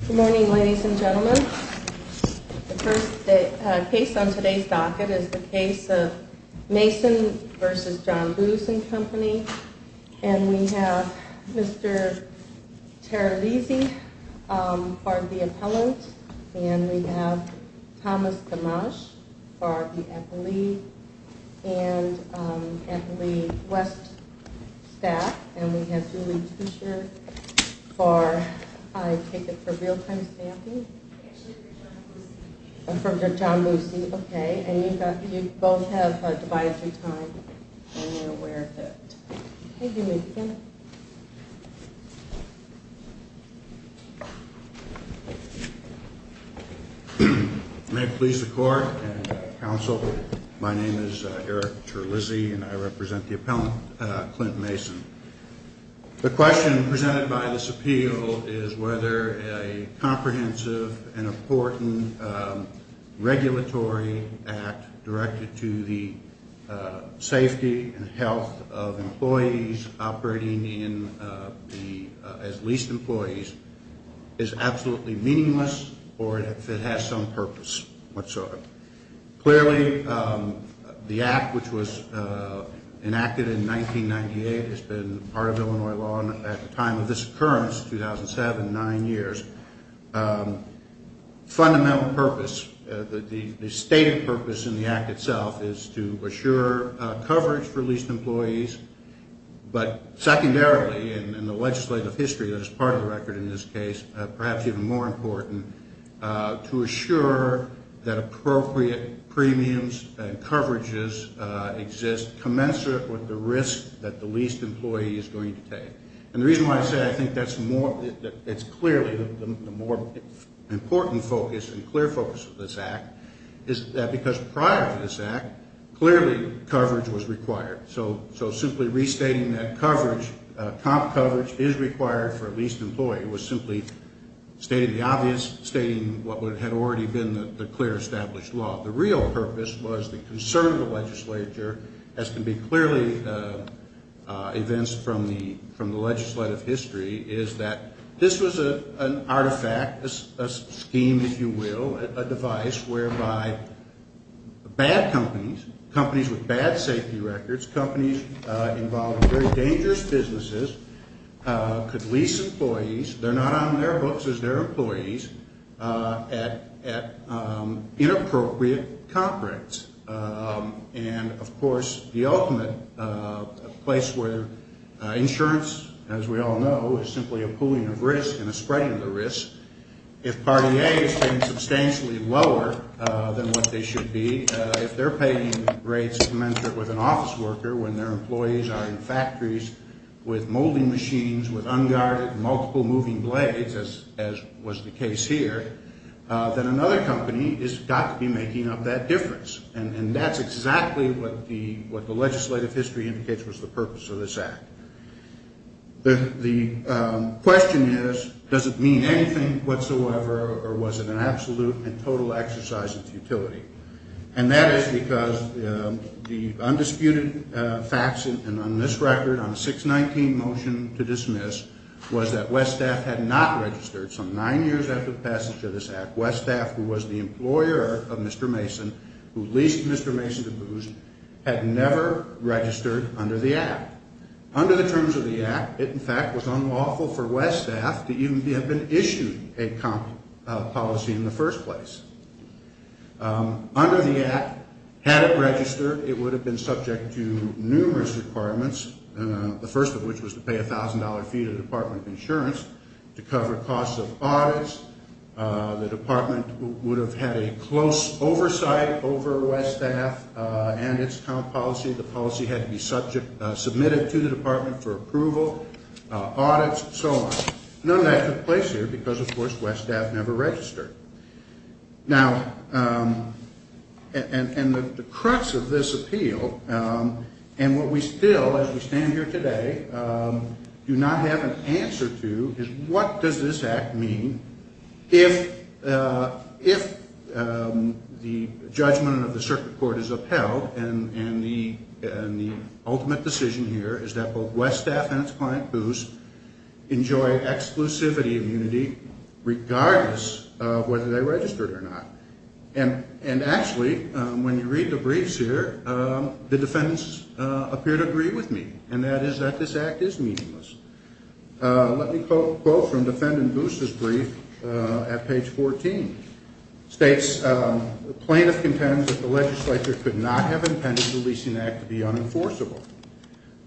Good morning, ladies and gentlemen. The first case on today's docket is the case of Mason v. John Boos & Company. And we have Mr. Terralisi for the appellant, and we have Thomas Dimash for the appellee and appellee west staff, and we have Julie Tuescher for, I take it for real-time staffing? I'm from John Boos & Company. I'm from John Boos & Company. Okay, and you both have divisory time and you're aware of that. Okay, you may begin. May it please the court and counsel, my name is Eric Terralisi and I represent the appellant, Clint Mason. The question presented by this appeal is whether a comprehensive and important regulatory act directed to the safety and health of employees operating as leased employees is absolutely meaningless or if it has some purpose whatsoever. Clearly, the act which was enacted in 1998 has been part of Illinois law at the time of this occurrence, 2007, nine years. Fundamental purpose, the stated purpose in the act itself is to assure coverage for leased employees, but secondarily in the legislative history that is part of the record in this case, perhaps even more important, to assure that appropriate premiums and coverages exist commensurate with the risk that the leased employee is going to take. And the reason why I say I think that's clearly the more important focus and clear focus of this act is that because prior to this act, clearly coverage was required. So simply restating that coverage, comp coverage, is required for a leased employee was simply stating the obvious, stating what had already been the clear established law. The real purpose was the concern of the legislature, as can be clearly evidenced from the legislative history, is that this was an artifact, a scheme, if you will, a device whereby bad companies, companies with bad safety records, companies involved in very dangerous businesses, could lease employees. They're not on their books as their employees at inappropriate comp rates. And, of course, the ultimate place where insurance, as we all know, is simply a pooling of risk and a spreading of the risk. If Part A is substantially lower than what they should be, if they're paying rates commensurate with an office worker when their employees are in factories with molding machines, with unguarded multiple moving blades, as was the case here, then another company has got to be making up that difference. And that's exactly what the legislative history indicates was the purpose of this act. The question is, does it mean anything whatsoever, or was it an absolute and total exercise of futility? And that is because the undisputed facts on this record, on the 619 motion to dismiss, was that Westaf had not registered some nine years after the passage of this act. Westaf, who was the employer of Mr. Mason, who leased Mr. Mason to Booz, had never registered under the act. Under the terms of the act, it, in fact, was unlawful for Westaf to even have been issued a comp policy in the first place. Under the act, had it registered, it would have been subject to numerous requirements, the first of which was to pay a $1,000 fee to the Department of Insurance to cover costs of audits. The department would have had a close oversight over Westaf and its comp policy. The policy had to be submitted to the department for approval, audits, and so on. None of that took place here because, of course, Westaf never registered. Now, and the crux of this appeal, and what we still, as we stand here today, do not have an answer to, is what does this act mean if the judgment of the circuit court is upheld, and the ultimate decision here is that both Westaf and its client, Booz, enjoy exclusivity immunity regardless of whether or not they have been issued a comp policy. And, actually, when you read the briefs here, the defendants appear to agree with me, and that is that this act is meaningless. Let me quote from defendant Booz's brief at page 14. It states, plaintiff contends that the legislature could not have intended the leasing act to be unenforceable.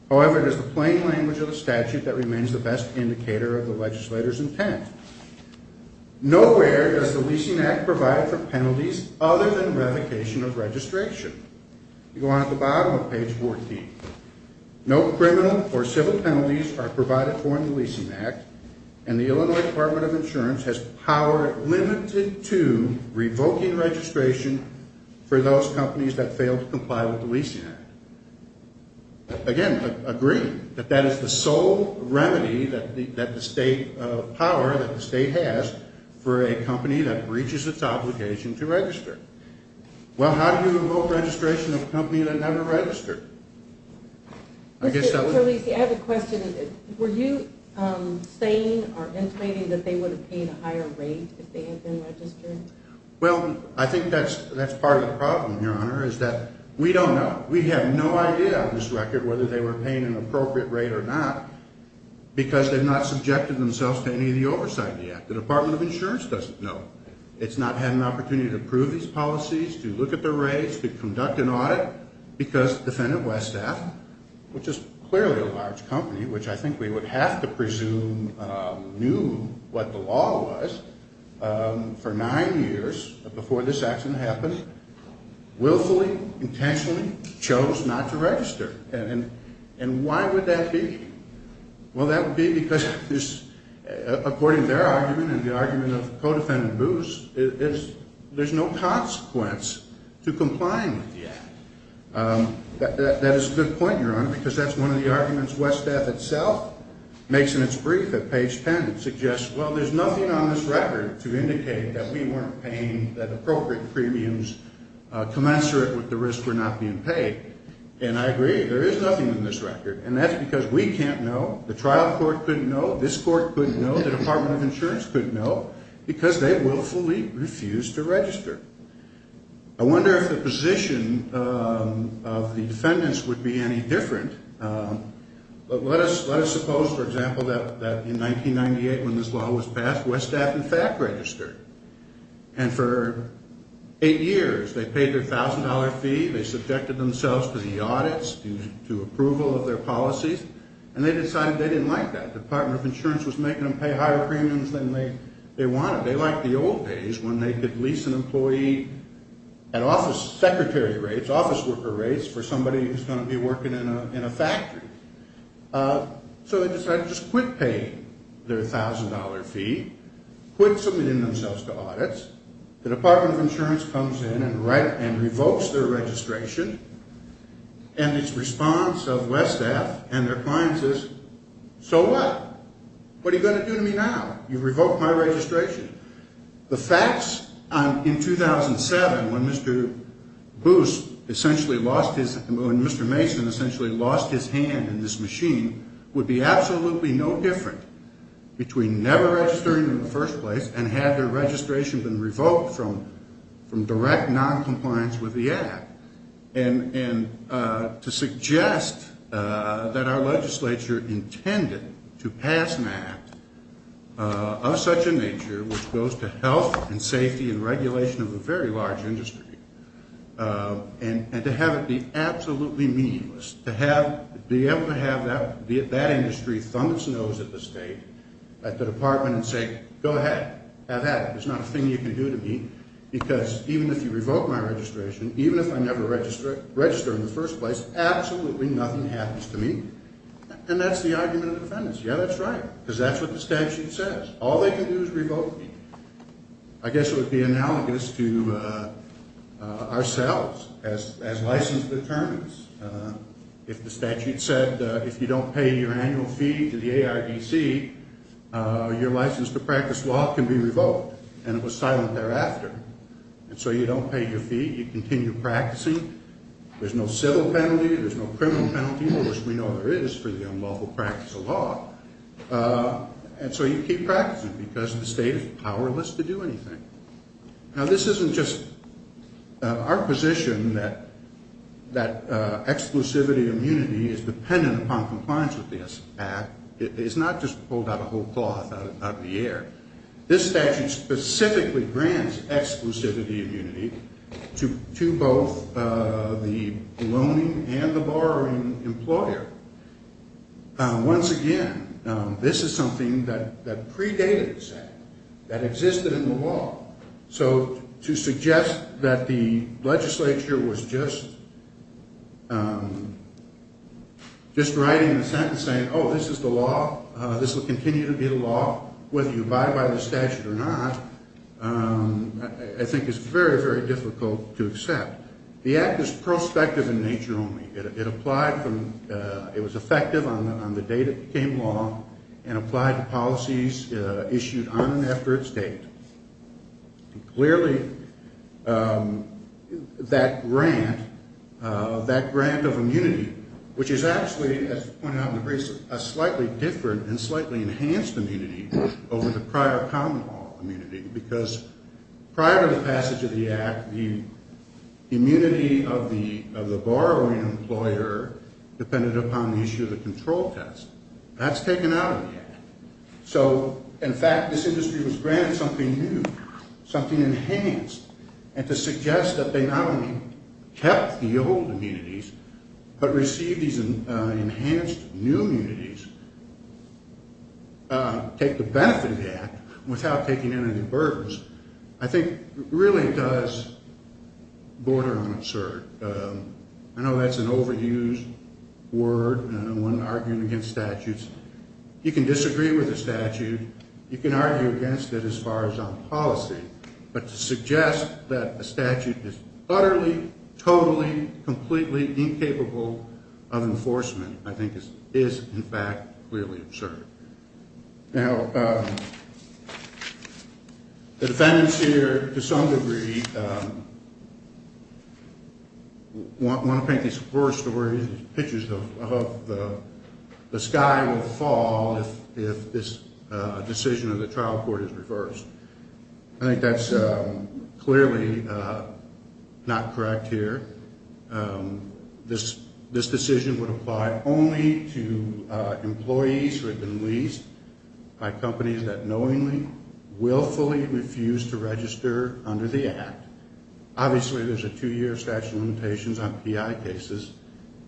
However, it is the plain language of the statute that remains the best indicator of the legislator's intent. Nowhere does the leasing act provide for penalties other than revocation of registration. You go on to the bottom of page 14. No criminal or civil penalties are provided for in the leasing act, and the Illinois Department of Insurance has power limited to revoking registration for those companies that fail to comply with the leasing act. Again, I agree that that is the sole remedy that the state of power, that the state has for a company that breaches its obligation to register. Well, how do you revoke registration of a company that never registered? I have a question. Were you saying or implaining that they would have paid a higher rate if they had been registered? Well, I think that's part of the problem, Your Honor, is that we don't know. We have no idea on this record whether they were paying an appropriate rate or not because they've not subjected themselves to any of the oversight of the act. The Department of Insurance doesn't know. It's not had an opportunity to prove these policies, to look at the rates, to conduct an audit, because Defendant Westath, which is clearly a large company, which I think we would have to presume knew what the law was for nine years before this action happened, willfully, intentionally chose not to register. And why would that be? Well, that would be because, according to their argument and the argument of Codefendant Booth, there's no consequence to complying with the act. That is a good point, Your Honor, because that's one of the arguments Westath itself makes in its brief at Page 10. It suggests, well, there's nothing on this record to indicate that we weren't paying that appropriate premiums commensurate with the risk for not being paid. And I agree. There is nothing in this record. And that's because we can't know, the trial court couldn't know, this court couldn't know, the Department of Insurance couldn't know, because they willfully refused to register. I wonder if the position of the defendants would be any different. But let us suppose, for example, that in 1998, when this law was passed, Westath, in fact, registered. And for eight years, they paid their $1,000 fee, they subjected themselves to the audits, to approval of their policies, and they decided they didn't like that. The Department of Insurance was making them pay higher premiums than they wanted. They liked the old days when they could lease an employee at office secretary rates, office worker rates, for somebody who's going to be working in a factory. So they decided to just quit paying their $1,000 fee, quit submitting themselves to audits. The Department of Insurance comes in and revokes their registration. And its response of Westath and their clients is, so what? What are you going to do to me now? You revoked my registration. The facts in 2007, when Mr. Boos essentially lost his, when Mr. Mason essentially lost his hand in this machine, would be absolutely no different between never registering in the first place and had their registration been revoked from direct noncompliance with the Act. And to suggest that our legislature intended to pass an Act of such a nature, which goes to health and safety and regulation of a very large industry, and to have it be absolutely meaningless, to be able to have that industry thumb its nose at the State, at the Department, and say, go ahead, have at it, it's not a thing you can do to me. Because even if you revoke my registration, even if I never register in the first place, absolutely nothing happens to me. And that's the argument of defendants. Yeah, that's right. Because that's what the statute says. All they can do is revoke me. I guess it would be analogous to ourselves, as license determines. If the statute said, if you don't pay your annual fee to the ARDC, your license to practice law can be revoked. And it was silent thereafter. And so you don't pay your fee, you continue practicing. There's no civil penalty, there's no criminal penalty, which we know there is for the unlawful practice of law. And so you keep practicing because the State is powerless to do anything. Now, this isn't just our position that exclusivity immunity is dependent upon compliance with the Act. It's not just pulled out a whole cloth out of the air. This statute specifically grants exclusivity immunity to both the loaning and the borrowing employer. Once again, this is something that predated the statute, that existed in the law. So to suggest that the legislature was just writing a sentence saying, oh, this is the law, this will continue to be the law, whether you abide by the statute or not, I think is very, very difficult to accept. The Act is prospective in nature only. It applied from, it was effective on the date it became law and applied to policies issued on and after its date. Clearly, that grant, that grant of immunity, which is actually, as pointed out in the briefs, a slightly different and slightly enhanced immunity over the prior common law immunity, because prior to the passage of the Act, the immunity of the borrowing employer depended upon the issue of the control test. That's taken out of the Act. So, in fact, this industry was granted something new, something enhanced. And to suggest that they not only kept the old immunities, but received these enhanced new immunities, take the benefit of the Act without taking in any burdens, I think really does border on absurd. I know that's an overused word when arguing against statutes. You can disagree with a statute. You can argue against it as far as on policy. But to suggest that a statute is utterly, totally, completely incapable of enforcement, I think is, in fact, really absurd. Now, the defendants here, to some degree, want to paint these pictures of the sky will fall if this decision of the trial court is reversed. I think that's clearly not correct here. This decision would apply only to employees who had been leased by companies that knowingly, willfully refused to register under the Act. Obviously, there's a two-year statute of limitations on PI cases.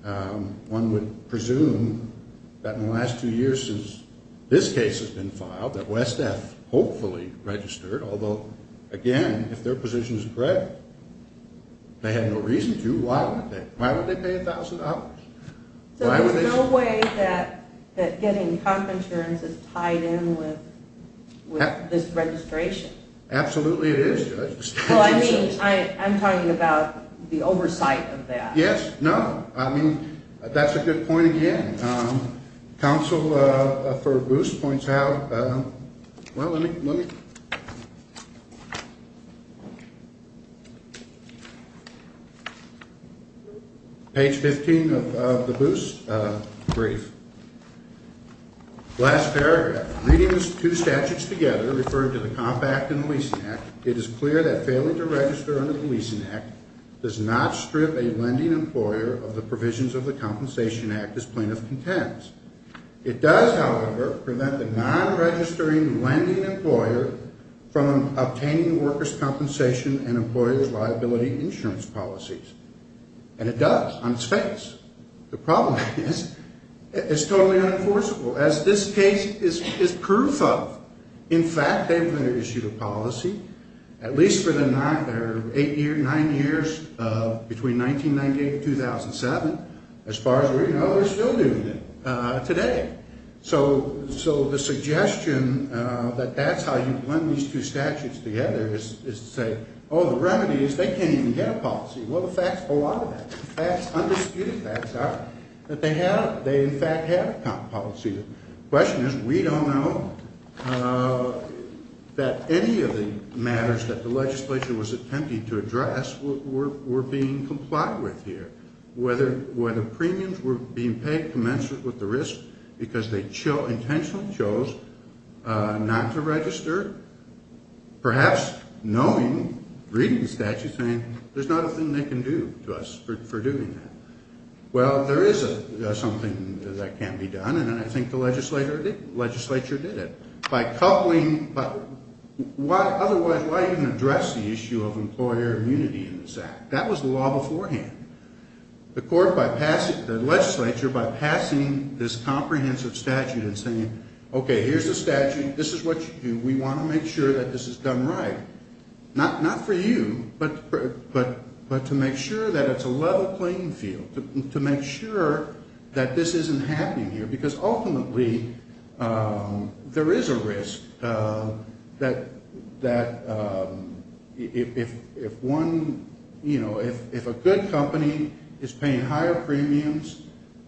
One would presume that in the last two years since this case has been filed, that West Death hopefully registered, although, again, if their position is correct, they had no reason to. Why would they pay $1,000? So there's no way that getting comp insurance is tied in with this registration? Absolutely it is, Judge. I'm talking about the oversight of that. Yes. No. I mean, that's a good point again. Counsel for Boos points out, well, let me... Page 15 of the Boos brief. Last paragraph. And it does, on its face. The problem is, it's totally unenforceable, as this case is proof of. In fact, they've been issued a policy, at least for the nine years between 1998 and 2007. As far as we know, they're still doing it today. So the suggestion that that's how you blend these two statutes together is to say, oh, the remedy is they can't even get a policy. Well, the facts hold onto that. The facts, undisputed facts, are that they have, they in fact have a policy. The question is, we don't know that any of the matters that the legislature was attempting to address were being complied with here. Whether premiums were being paid commensurate with the risk because they intentionally chose not to register, perhaps knowing, reading the statute, saying, there's not a thing they can do to us for doing that. Well, there is something that can be done, and I think the legislature did it. By coupling, otherwise, why even address the issue of employer immunity in this act? That was the law beforehand. The legislature, by passing this comprehensive statute and saying, okay, here's the statute, this is what you do, we want to make sure that this is done right. Not for you, but to make sure that it's a level playing field, to make sure that this isn't happening here, because ultimately there is a risk that if one, you know, if a good company is paying higher premiums,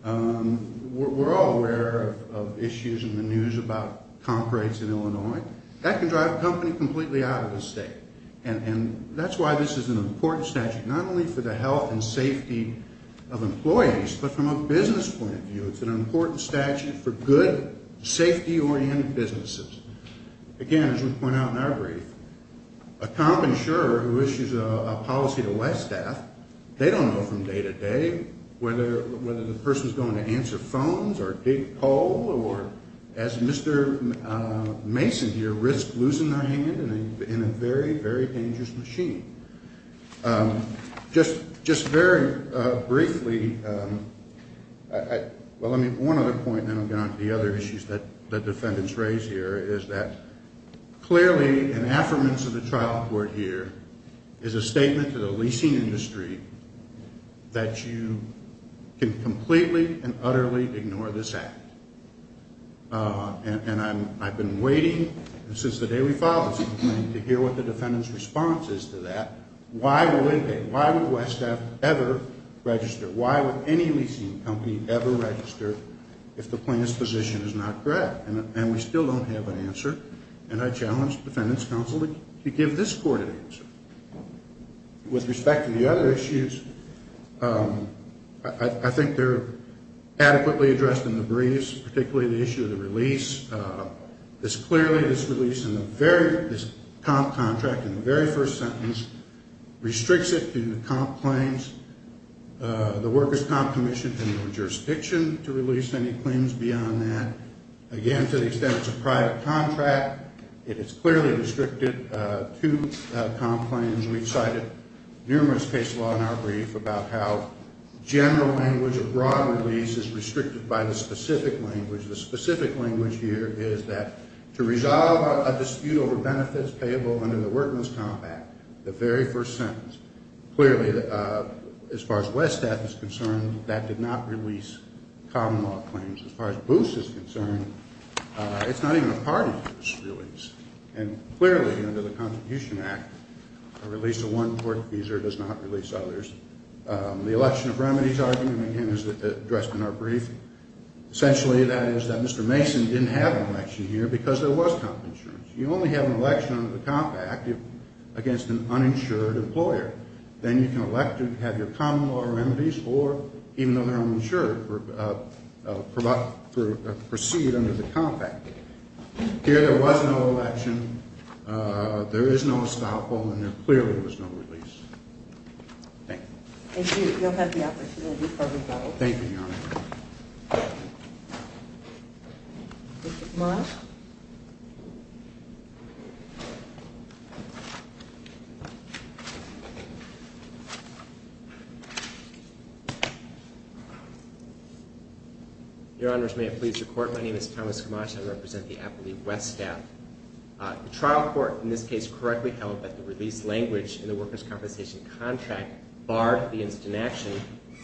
we're all aware of issues in the news about comp rates in Illinois. That can drive a company completely out of the state, and that's why this is an important statute, not only for the health and safety of employees, but from a business point of view, it's an important statute for good, safety-oriented businesses. Again, as we point out in our brief, a comp insurer who issues a policy to Westaf, they don't know from day to day whether the person is going to answer phones or dig coal, or as Mr. Mason here, risk losing their hand in a very, very dangerous machine. Just very briefly, well, I mean, one other point, and then I'll get on to the other issues that the defendants raise here, is that clearly an affirmance of the trial court here is a statement to the leasing industry that you can completely and utterly ignore this act. And I've been waiting since the day we filed this complaint to hear what the defendant's response is to that. Why would Westaf ever register? Why would any leasing company ever register if the plaintiff's position is not correct? And we still don't have an answer. And I challenge the defendants' counsel to give this court an answer. With respect to the other issues, I think they're adequately addressed in the briefs, particularly the issue of the release. It's clearly this release in the very, this comp contract in the very first sentence, restricts it to comp claims. The workers' comp commission has no jurisdiction to release any claims beyond that. And to the extent it's a private contract, it is clearly restricted to comp claims. We've cited numerous case law in our brief about how general language abroad release is restricted by the specific language. The specific language here is that to resolve a dispute over benefits payable under the workers' comp act, the very first sentence, clearly, as far as Westaf is concerned, that did not release comp law claims. As far as BOOS is concerned, it's not even a part of this release. And clearly, under the Contribution Act, a release of one tortfeasor does not release others. The election of remedies argument, again, is addressed in our brief. Essentially, that is that Mr. Mason didn't have an election here because there was comp insurance. You only have an election under the comp act against an uninsured employer. Then you can elect to have your comp law remedies or, even though they're uninsured, proceed under the comp act. Here, there was no election. There is no estoppel, and there clearly was no release. Thank you. Thank you. You'll have the opportunity for rebuttal. Thank you, Your Honor. Mr. Marsh? Thank you. Your Honors, may it please your Court, my name is Thomas Gamache. I represent the Appellee Westaf. The trial court, in this case, correctly held that the release language in the workers' compensation contract barred the instant action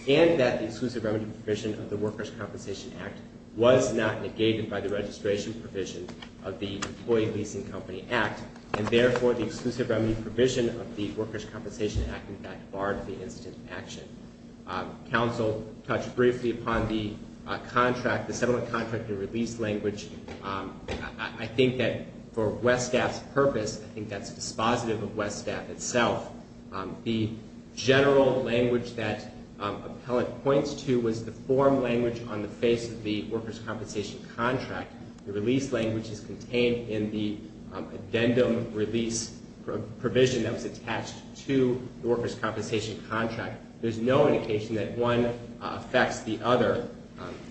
and that the exclusive remedy provision of the Workers' Compensation Act was not negated by the registration provision of the Employee Leasing Company Act. And, therefore, the exclusive remedy provision of the Workers' Compensation Act, in fact, barred the instant action. Counsel touched briefly upon the contract, the settlement contract and release language. I think that for Westaf's purpose, I think that's dispositive of Westaf itself. The general language that Appellate points to was the form language on the face of the workers' compensation contract. The release language is contained in the addendum release provision that was attached to the workers' compensation contract. There's no indication that one affects the other.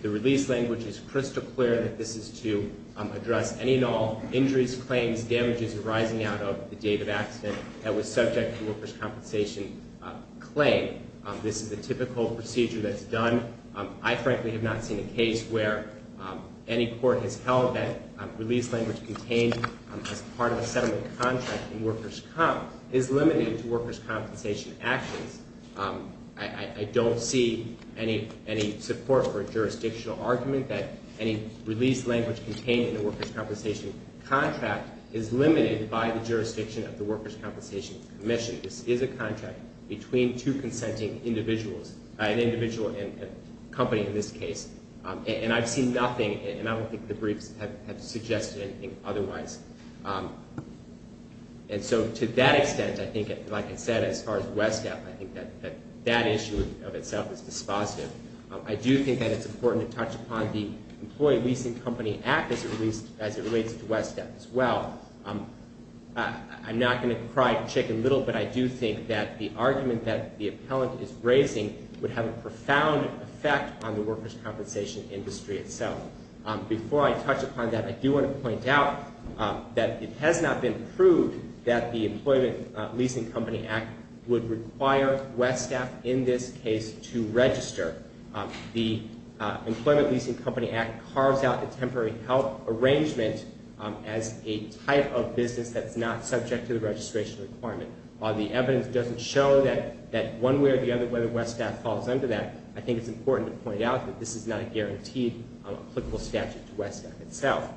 The release language is crystal clear that this is to address any and all injuries, claims, damages arising out of the date of accident that was subject to the workers' compensation claim. This is the typical procedure that's done. I, frankly, have not seen a case where any court has held that release language contained as part of a settlement contract in workers' comp is limited to workers' compensation actions. I don't see any support for a jurisdictional argument that any release language contained in the workers' compensation contract is limited by the jurisdiction of the Workers' Compensation Commission. This is a contract between two consenting individuals, an individual and a company in this case. And I've seen nothing, and I don't think the briefs have suggested anything otherwise. And so to that extent, I think, like I said, as far as Westaf, I think that that issue of itself is dispositive. I do think that it's important to touch upon the Employee Leasing Company Act as it relates to Westaf as well. I'm not going to cry a chicken little, but I do think that the argument that the appellant is raising would have a profound effect on the workers' compensation industry itself. Before I touch upon that, I do want to point out that it has not been proved that the Employee Leasing Company Act would require Westaf in this case to register. The Employee Leasing Company Act carves out the temporary help arrangement as a type of business that's not subject to the registration requirement. While the evidence doesn't show that one way or the other whether Westaf falls under that, I think it's important to point out that this is not a guaranteed applicable statute to Westaf itself.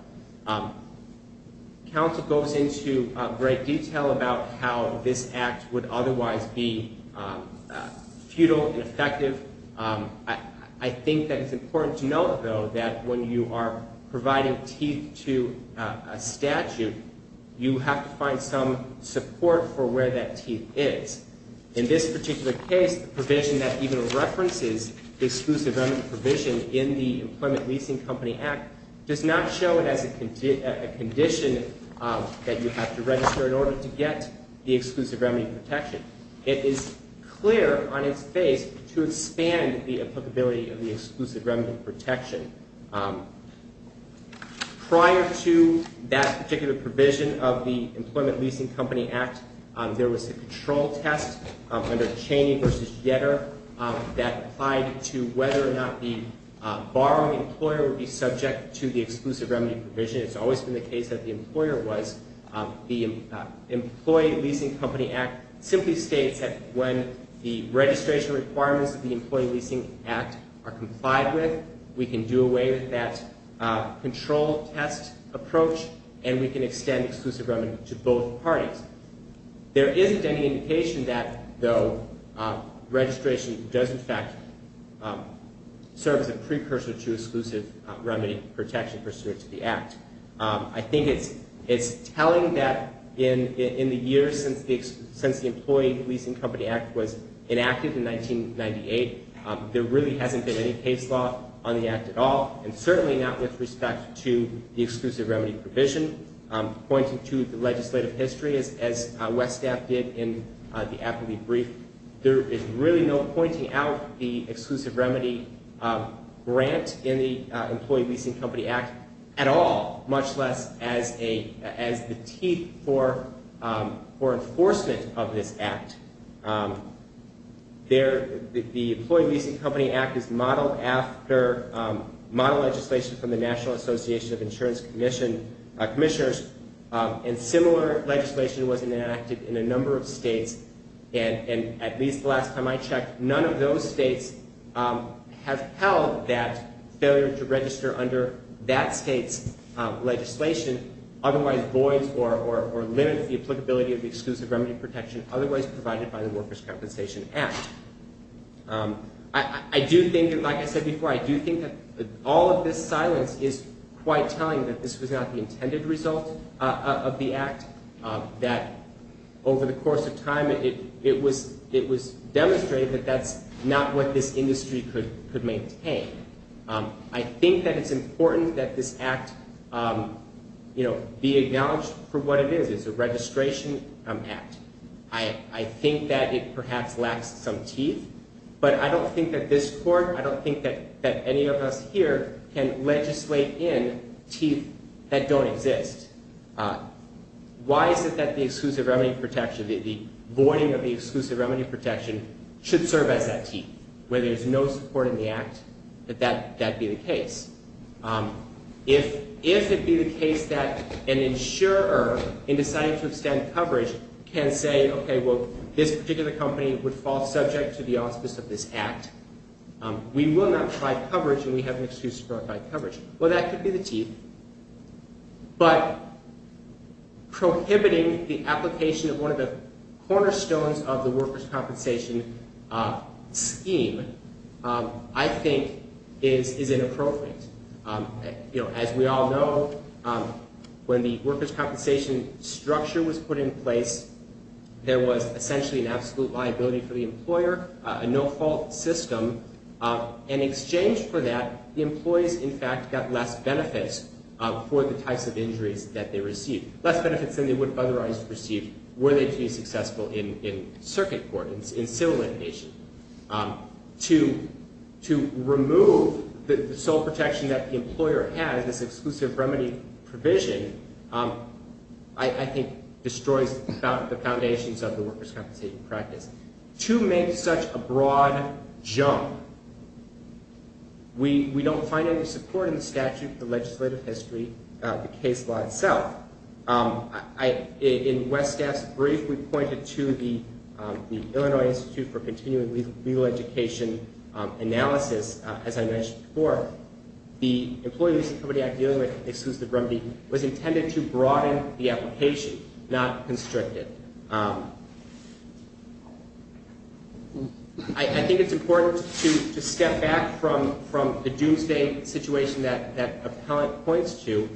Council goes into great detail about how this act would otherwise be futile and effective. I think that it's important to note, though, that when you are providing teeth to a statute, you have to find some support for where that teeth is. In this particular case, the provision that even references the exclusive revenue provision in the Employment Leasing Company Act does not show it as a condition that you have to register in order to get the exclusive revenue protection. It is clear on its face to expand the applicability of the exclusive revenue protection. Prior to that particular provision of the Employment Leasing Company Act, there was a control test under Cheney v. Getter that applied to whether or not a borrowing employer would be subject to the exclusive revenue provision. It's always been the case that the employer was. The Employment Leasing Company Act simply states that when the registration requirements of the Employment Leasing Act are complied with, we can do away with that control test approach, and we can extend exclusive revenue to both parties. There isn't any indication that, though, registration does, in fact, serve as a precursor to exclusive revenue protection pursuant to the Act. I think it's telling that in the years since the Employment Leasing Company Act was enacted in 1998, there really hasn't been any case law on the Act at all, and certainly not with respect to the exclusive revenue provision. Pointing to the legislative history, as Wes Staff did in the Appellee Brief, there is really no pointing out the exclusive remedy grant in the Employment Leasing Company Act at all, much less as the teeth for enforcement of this Act. The Employment Leasing Company Act is modeled after model legislation from the National Association of Insurance Commissioners, and similar legislation was enacted in a number of states, and at least the last time I checked, none of those states have held that failure to register under that state's legislation, otherwise void or limit the applicability of the exclusive remedy protection otherwise provided by the Workers' Compensation Act. I do think, like I said before, I do think that all of this silence is quite telling that this was not the intended result of the Act, that over the course of time, it was demonstrated that that's not what this industry could maintain. I think that it's important that this Act be acknowledged for what it is. It's a registration Act. I think that it perhaps lacks some teeth, but I don't think that this Court, I don't think that any of us here can legislate in teeth that don't exist. Why is it that the exclusive remedy protection, the voiding of the exclusive remedy protection should serve as that teeth? Where there's no support in the Act, that that be the case. If it be the case that an insurer, in deciding to extend coverage, can say, okay, well, this particular company would fall subject to the auspice of this Act, we will not provide coverage and we have an excuse to provide coverage. Well, that could be the teeth, but prohibiting the application of one of the cornerstones of the Workers' Compensation scheme, I think, is inappropriate. As we all know, when the Workers' Compensation structure was put in place, there was essentially an absolute liability for the employer, a no-fault system. In exchange for that, the employees, in fact, got less benefits for the types of injuries that they received. Less benefits than they would otherwise receive were they to be successful in circuit court, in civil litigation. To remove the sole protection that the employer has, this exclusive remedy provision, I think, destroys the foundations of the Workers' Compensation practice. To make such a broad jump, we don't find any support in the statute, the legislative history, the case law itself. In West Staff's brief, we pointed to the Illinois Institute of Legal Education analysis. As I mentioned before, the employees, somebody I'm dealing with, excludes the remedy, was intended to broaden the application, not constrict it. I think it's important to step back from the doomsday situation that Appellant points to.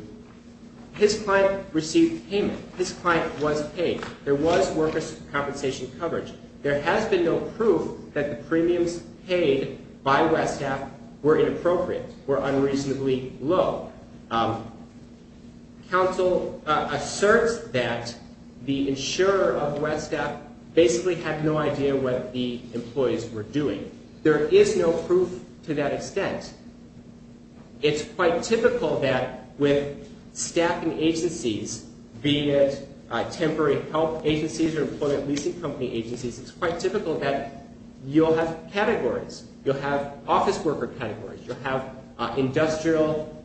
His client received payment. His client was paid. There was Workers' Compensation coverage. There has been no proof that the premiums paid by West Staff were inappropriate, were unreasonably low. Counsel asserts that the insurer of West Staff basically had no idea what the employees were doing. There is no proof to that extent. It's quite typical that with staffing agencies, be it temporary health agencies or employment leasing company agencies, it's quite typical that you'll have categories. You'll have office worker categories. You'll have industrial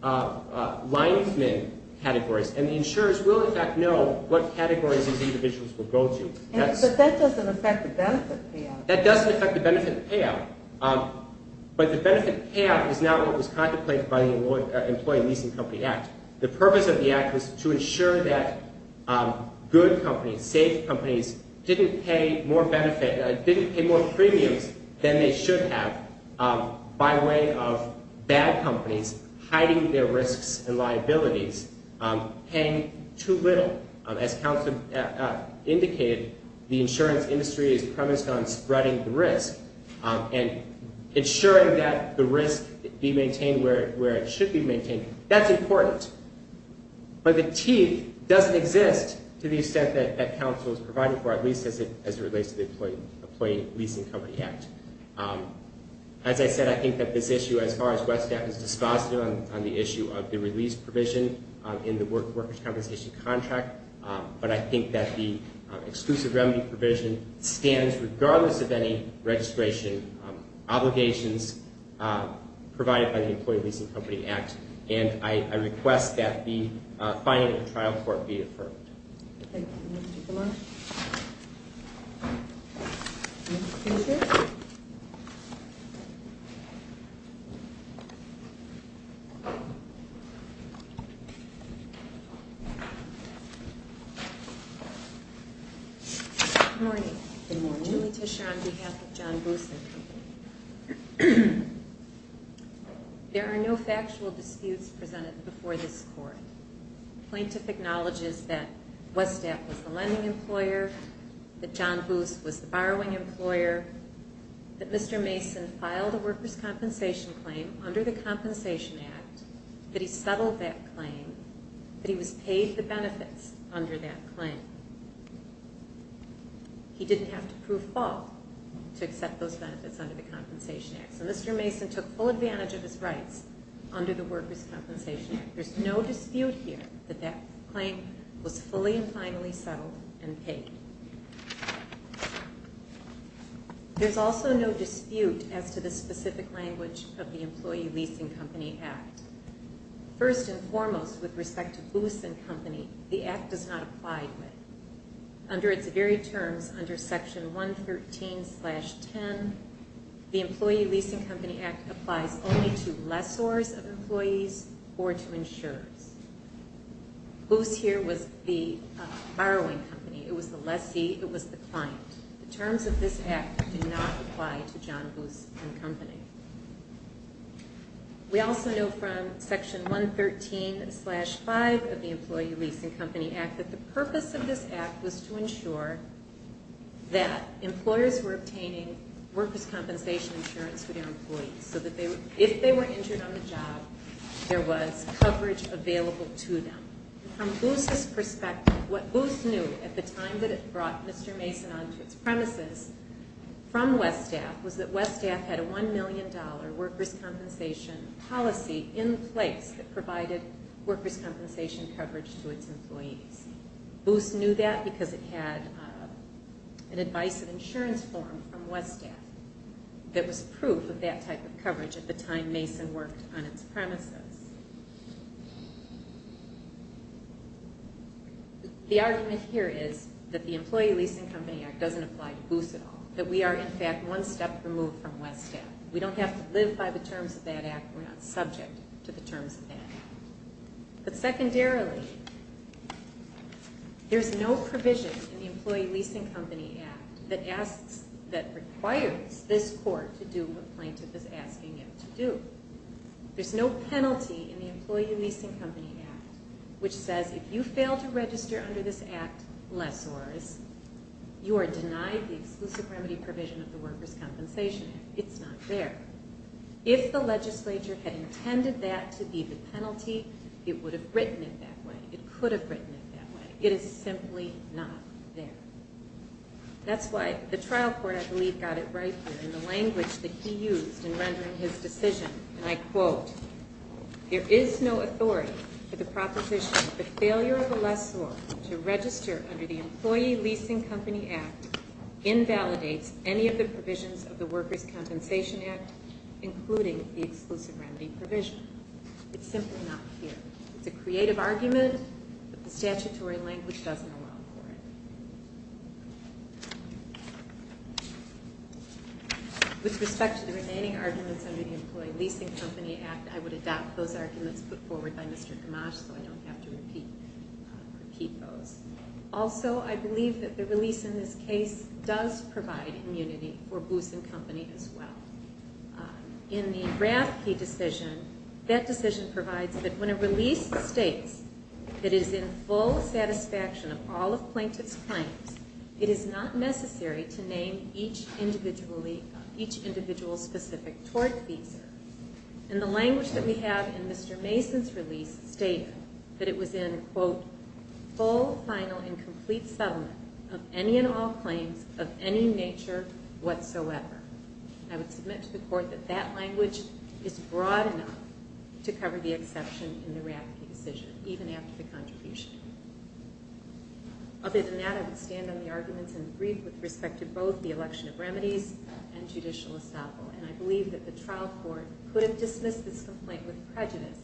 lineman categories. And the insurers will, in fact, know what categories these individuals will go to. But that doesn't affect the benefit payout. That doesn't affect the benefit payout. But the benefit payout is not what was contemplated by the Employee Leasing Company Act. The purpose of the Act was to ensure that good companies, safe companies, didn't pay more benefit, didn't pay more premiums than they should have by way of bad companies hiding their risks and liabilities, paying too little. As counsel indicated, the insurance industry is premised on spreading the risk and ensuring that the risk be maintained where it should be maintained. That's important. But the teeth doesn't exist to the extent that counsel has provided for, at least as it relates to the Employee Leasing Company Act. As I said, I think that this issue, as far as Westat is dispositive on the issue of the release provision in the workers' compensation contract, but I think that the exclusive remedy provision stands regardless of any registration obligations provided by the Employee Leasing Company Act. And I request that the finding of the trial court be affirmed. Thank you, Mr. Gamarra. Good morning. Good morning. Letitia, on behalf of John Bruce and Company. There are no factual disputes presented before this court. Plaintiff acknowledges that Westat was the lending employer, that John Bruce was the borrowing employer, that Mr. Mason filed a workers' compensation claim under the Compensation Act, that he settled that claim, that he was paid the benefits under that claim. He didn't have to prove fault to accept those benefits under the Compensation Act. So Mr. Mason took full advantage of his rights under the Workers' Compensation Act. There's no dispute here that that claim was fully and finally settled and paid. There's also no dispute as to the specific language of the Employee Leasing Company Act. First and foremost, with respect to Bruce and Company, the Act does not apply to it. Under its very terms, under Section 113-10, the Employee Leasing Company Act applies only to lessors of employees or to insurers. Bruce here was the borrowing company. It was the lessee. It was the client. The terms of this Act do not apply to John Bruce and Company. We also know from Section 113-5 of the Employee Leasing Company Act that the purpose of this Act was to ensure that employers were obtaining workers' compensation insurance for their employees so that if they were injured on the job, there was coverage available to them. From Bruce's perspective, what Bruce knew at the time that it brought Mr. Mason onto its premises from West Staff was that West Staff had a $1 million workers' compensation policy in place that provided workers' compensation coverage to its employees. That's because it had an advice of insurance form from West Staff that was proof of that type of coverage at the time Mason worked on its premises. The argument here is that the Employee Leasing Company Act doesn't apply to Bruce at all, that we are, in fact, one step removed from West Staff. We don't have to live by the terms of that Act. We're not subject to the terms of that. But secondarily, there's no provision in the Employee Leasing Company Act that requires this court to do what the plaintiff is asking it to do. There's no penalty in the Employee Leasing Company Act which says if you fail to register under this Act, lessors, you are denied the exclusive remedy provision It's not there. If the legislature had intended that to be the penalty, it's not there. That's why the trial court, I believe, got it right here in the language that he used in rendering his decision, and I quote, There is no authority for the proposition of the failure of a lessor to register under the Employee Leasing Company Act invalidates any of the provisions of the Workers' Compensation Act including the exclusive remedy provision. It's simply not here. With respect to the remaining arguments under the Employee Leasing Company Act, I would adopt those arguments put forward by Mr. Gamache so I don't have to repeat those. Also, I believe that the release in this case does provide immunity for Booson Company as well. In the Raffke decision, that decision provides that when a release states that it is in full satisfaction of all of plaintiff's claims, it is not necessary to name each individual specific toward the leaser. And the language that we have in Mr. Mason's release stated that it was in, quote, full, final, and complete settlement of any and all claims of any nature whatsoever. I would submit to the court that that language is broad enough to cover the exception in the Raffke decision Other than that, I would stand on the arguments and agree with respect to both the election of remedies and judicial estoppel. And I believe that the trial court could have dismissed this complaint with prejudice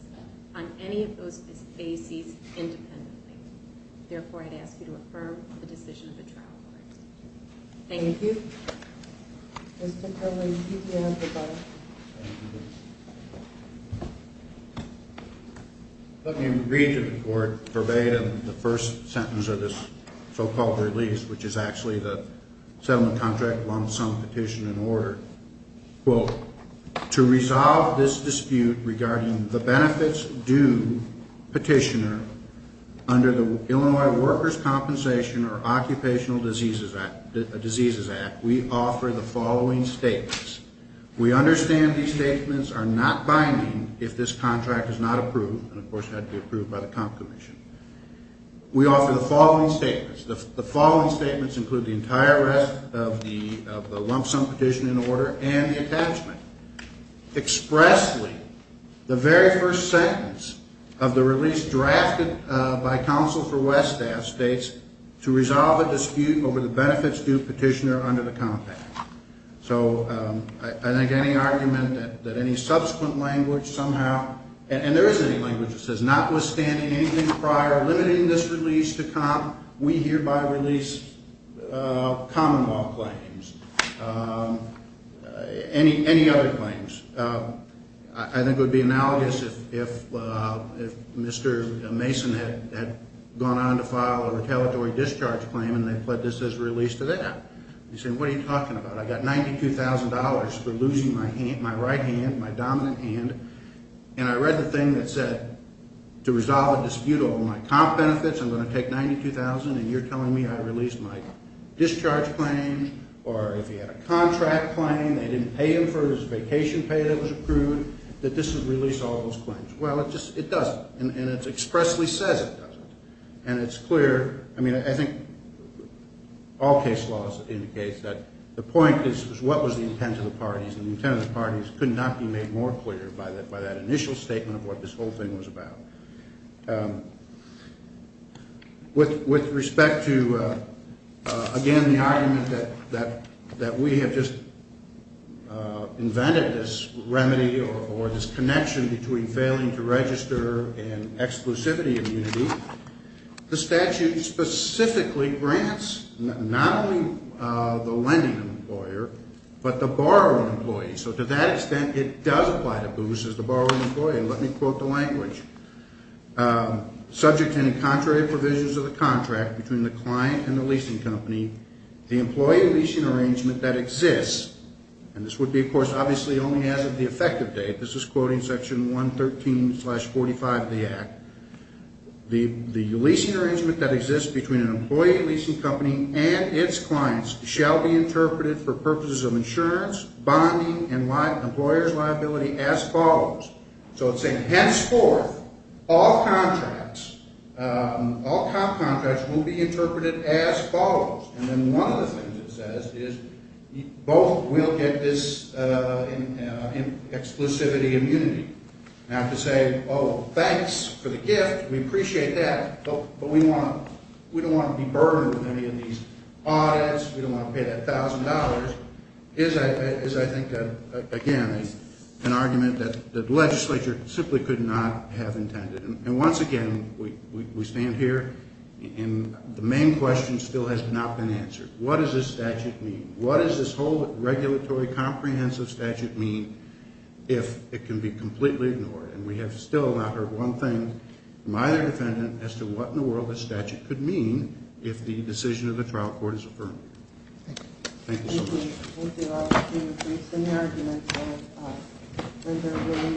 on any of those bases independently. Therefore, I'd ask you to affirm the decision of the trial court. Thank you. Mr. Kelly, you can have the mic. Thank you. Let me read to the court verbatim the first sentence of this so-called release, which is actually the settlement contract one-sum petition in order. Quote, to resolve this dispute regarding the benefits due petitioner under the Illinois Workers' Compensation or Occupational Diseases Act, we offer the following statements. We understand these statements are not binding if this contract is not approved. And, of course, it had to be approved by the comp commission. We offer the following statements. The following statements include the entire rest of the lump sum petition in order and the attachment. Expressly, the very first sentence of the release drafted by counsel for West Staff states, to resolve the dispute over the benefits due petitioner under the compact. So, I think any argument that any subsequent language somehow, and there is any language that says notwithstanding anything prior, limiting this release to comp, we hereby release common law claims, any other claims. I think it would be analogous if if Mr. Mason had gone on to file a retaliatory discharge claim and they put this as release to that. You say, what are you talking about? I got $92,000 for losing my hand, my right hand, my dominant hand. And I read the thing that said to resolve the dispute over my comp benefits, I'm going to take $92,000 and you're telling me I released my discharge claim or if he had a contract claim, they didn't pay him for his vacation pay that was approved, that this would release all those claims. Well, it just, it doesn't. And it expressly says it doesn't. And it's clear, I mean, I think all case laws indicate that the point is what was the intent of the parties and the intent of the parties could not be made more clear by that initial statement of what this whole thing was about. With respect to again, the argument that that we have just invented this remedy or this connection between failing to register and exclusivity immunity, the statute specifically grants not only the lending employer, but the borrowing employee. So to that extent, it does apply to BOOS as the borrowing employer. Let me quote the language. Subject to any contrary provisions of the contract between the client and the leasing company, the employee leasing arrangement that exists, and this would be of course obviously only as of the effective date, this is quoting Section 113 slash 45 of the Act, the leasing arrangement that exists between an employee leasing company and its clients shall be interpreted for purposes of insurance, bonding, and employers' liability as follows. So it's saying henceforth, all contracts, all contracts will be interpreted as follows. And then one of the things it says is both will get this exclusivity immunity. Now to say, oh, thanks for the gift, we appreciate that, but we don't want to be burdened with any of these audits, we don't want to pay that thousand dollars, is I think again an argument that the legislature simply could not have intended. And once again, we stand here and the main question still has not been answered. What does this statute mean? What does this whole regulatory comprehensive statute mean if it can be completely ignored? And we have still not heard one thing from either defendant as to what in the world this statute could mean if the decision of the trial court is affirmed. Thank you so much.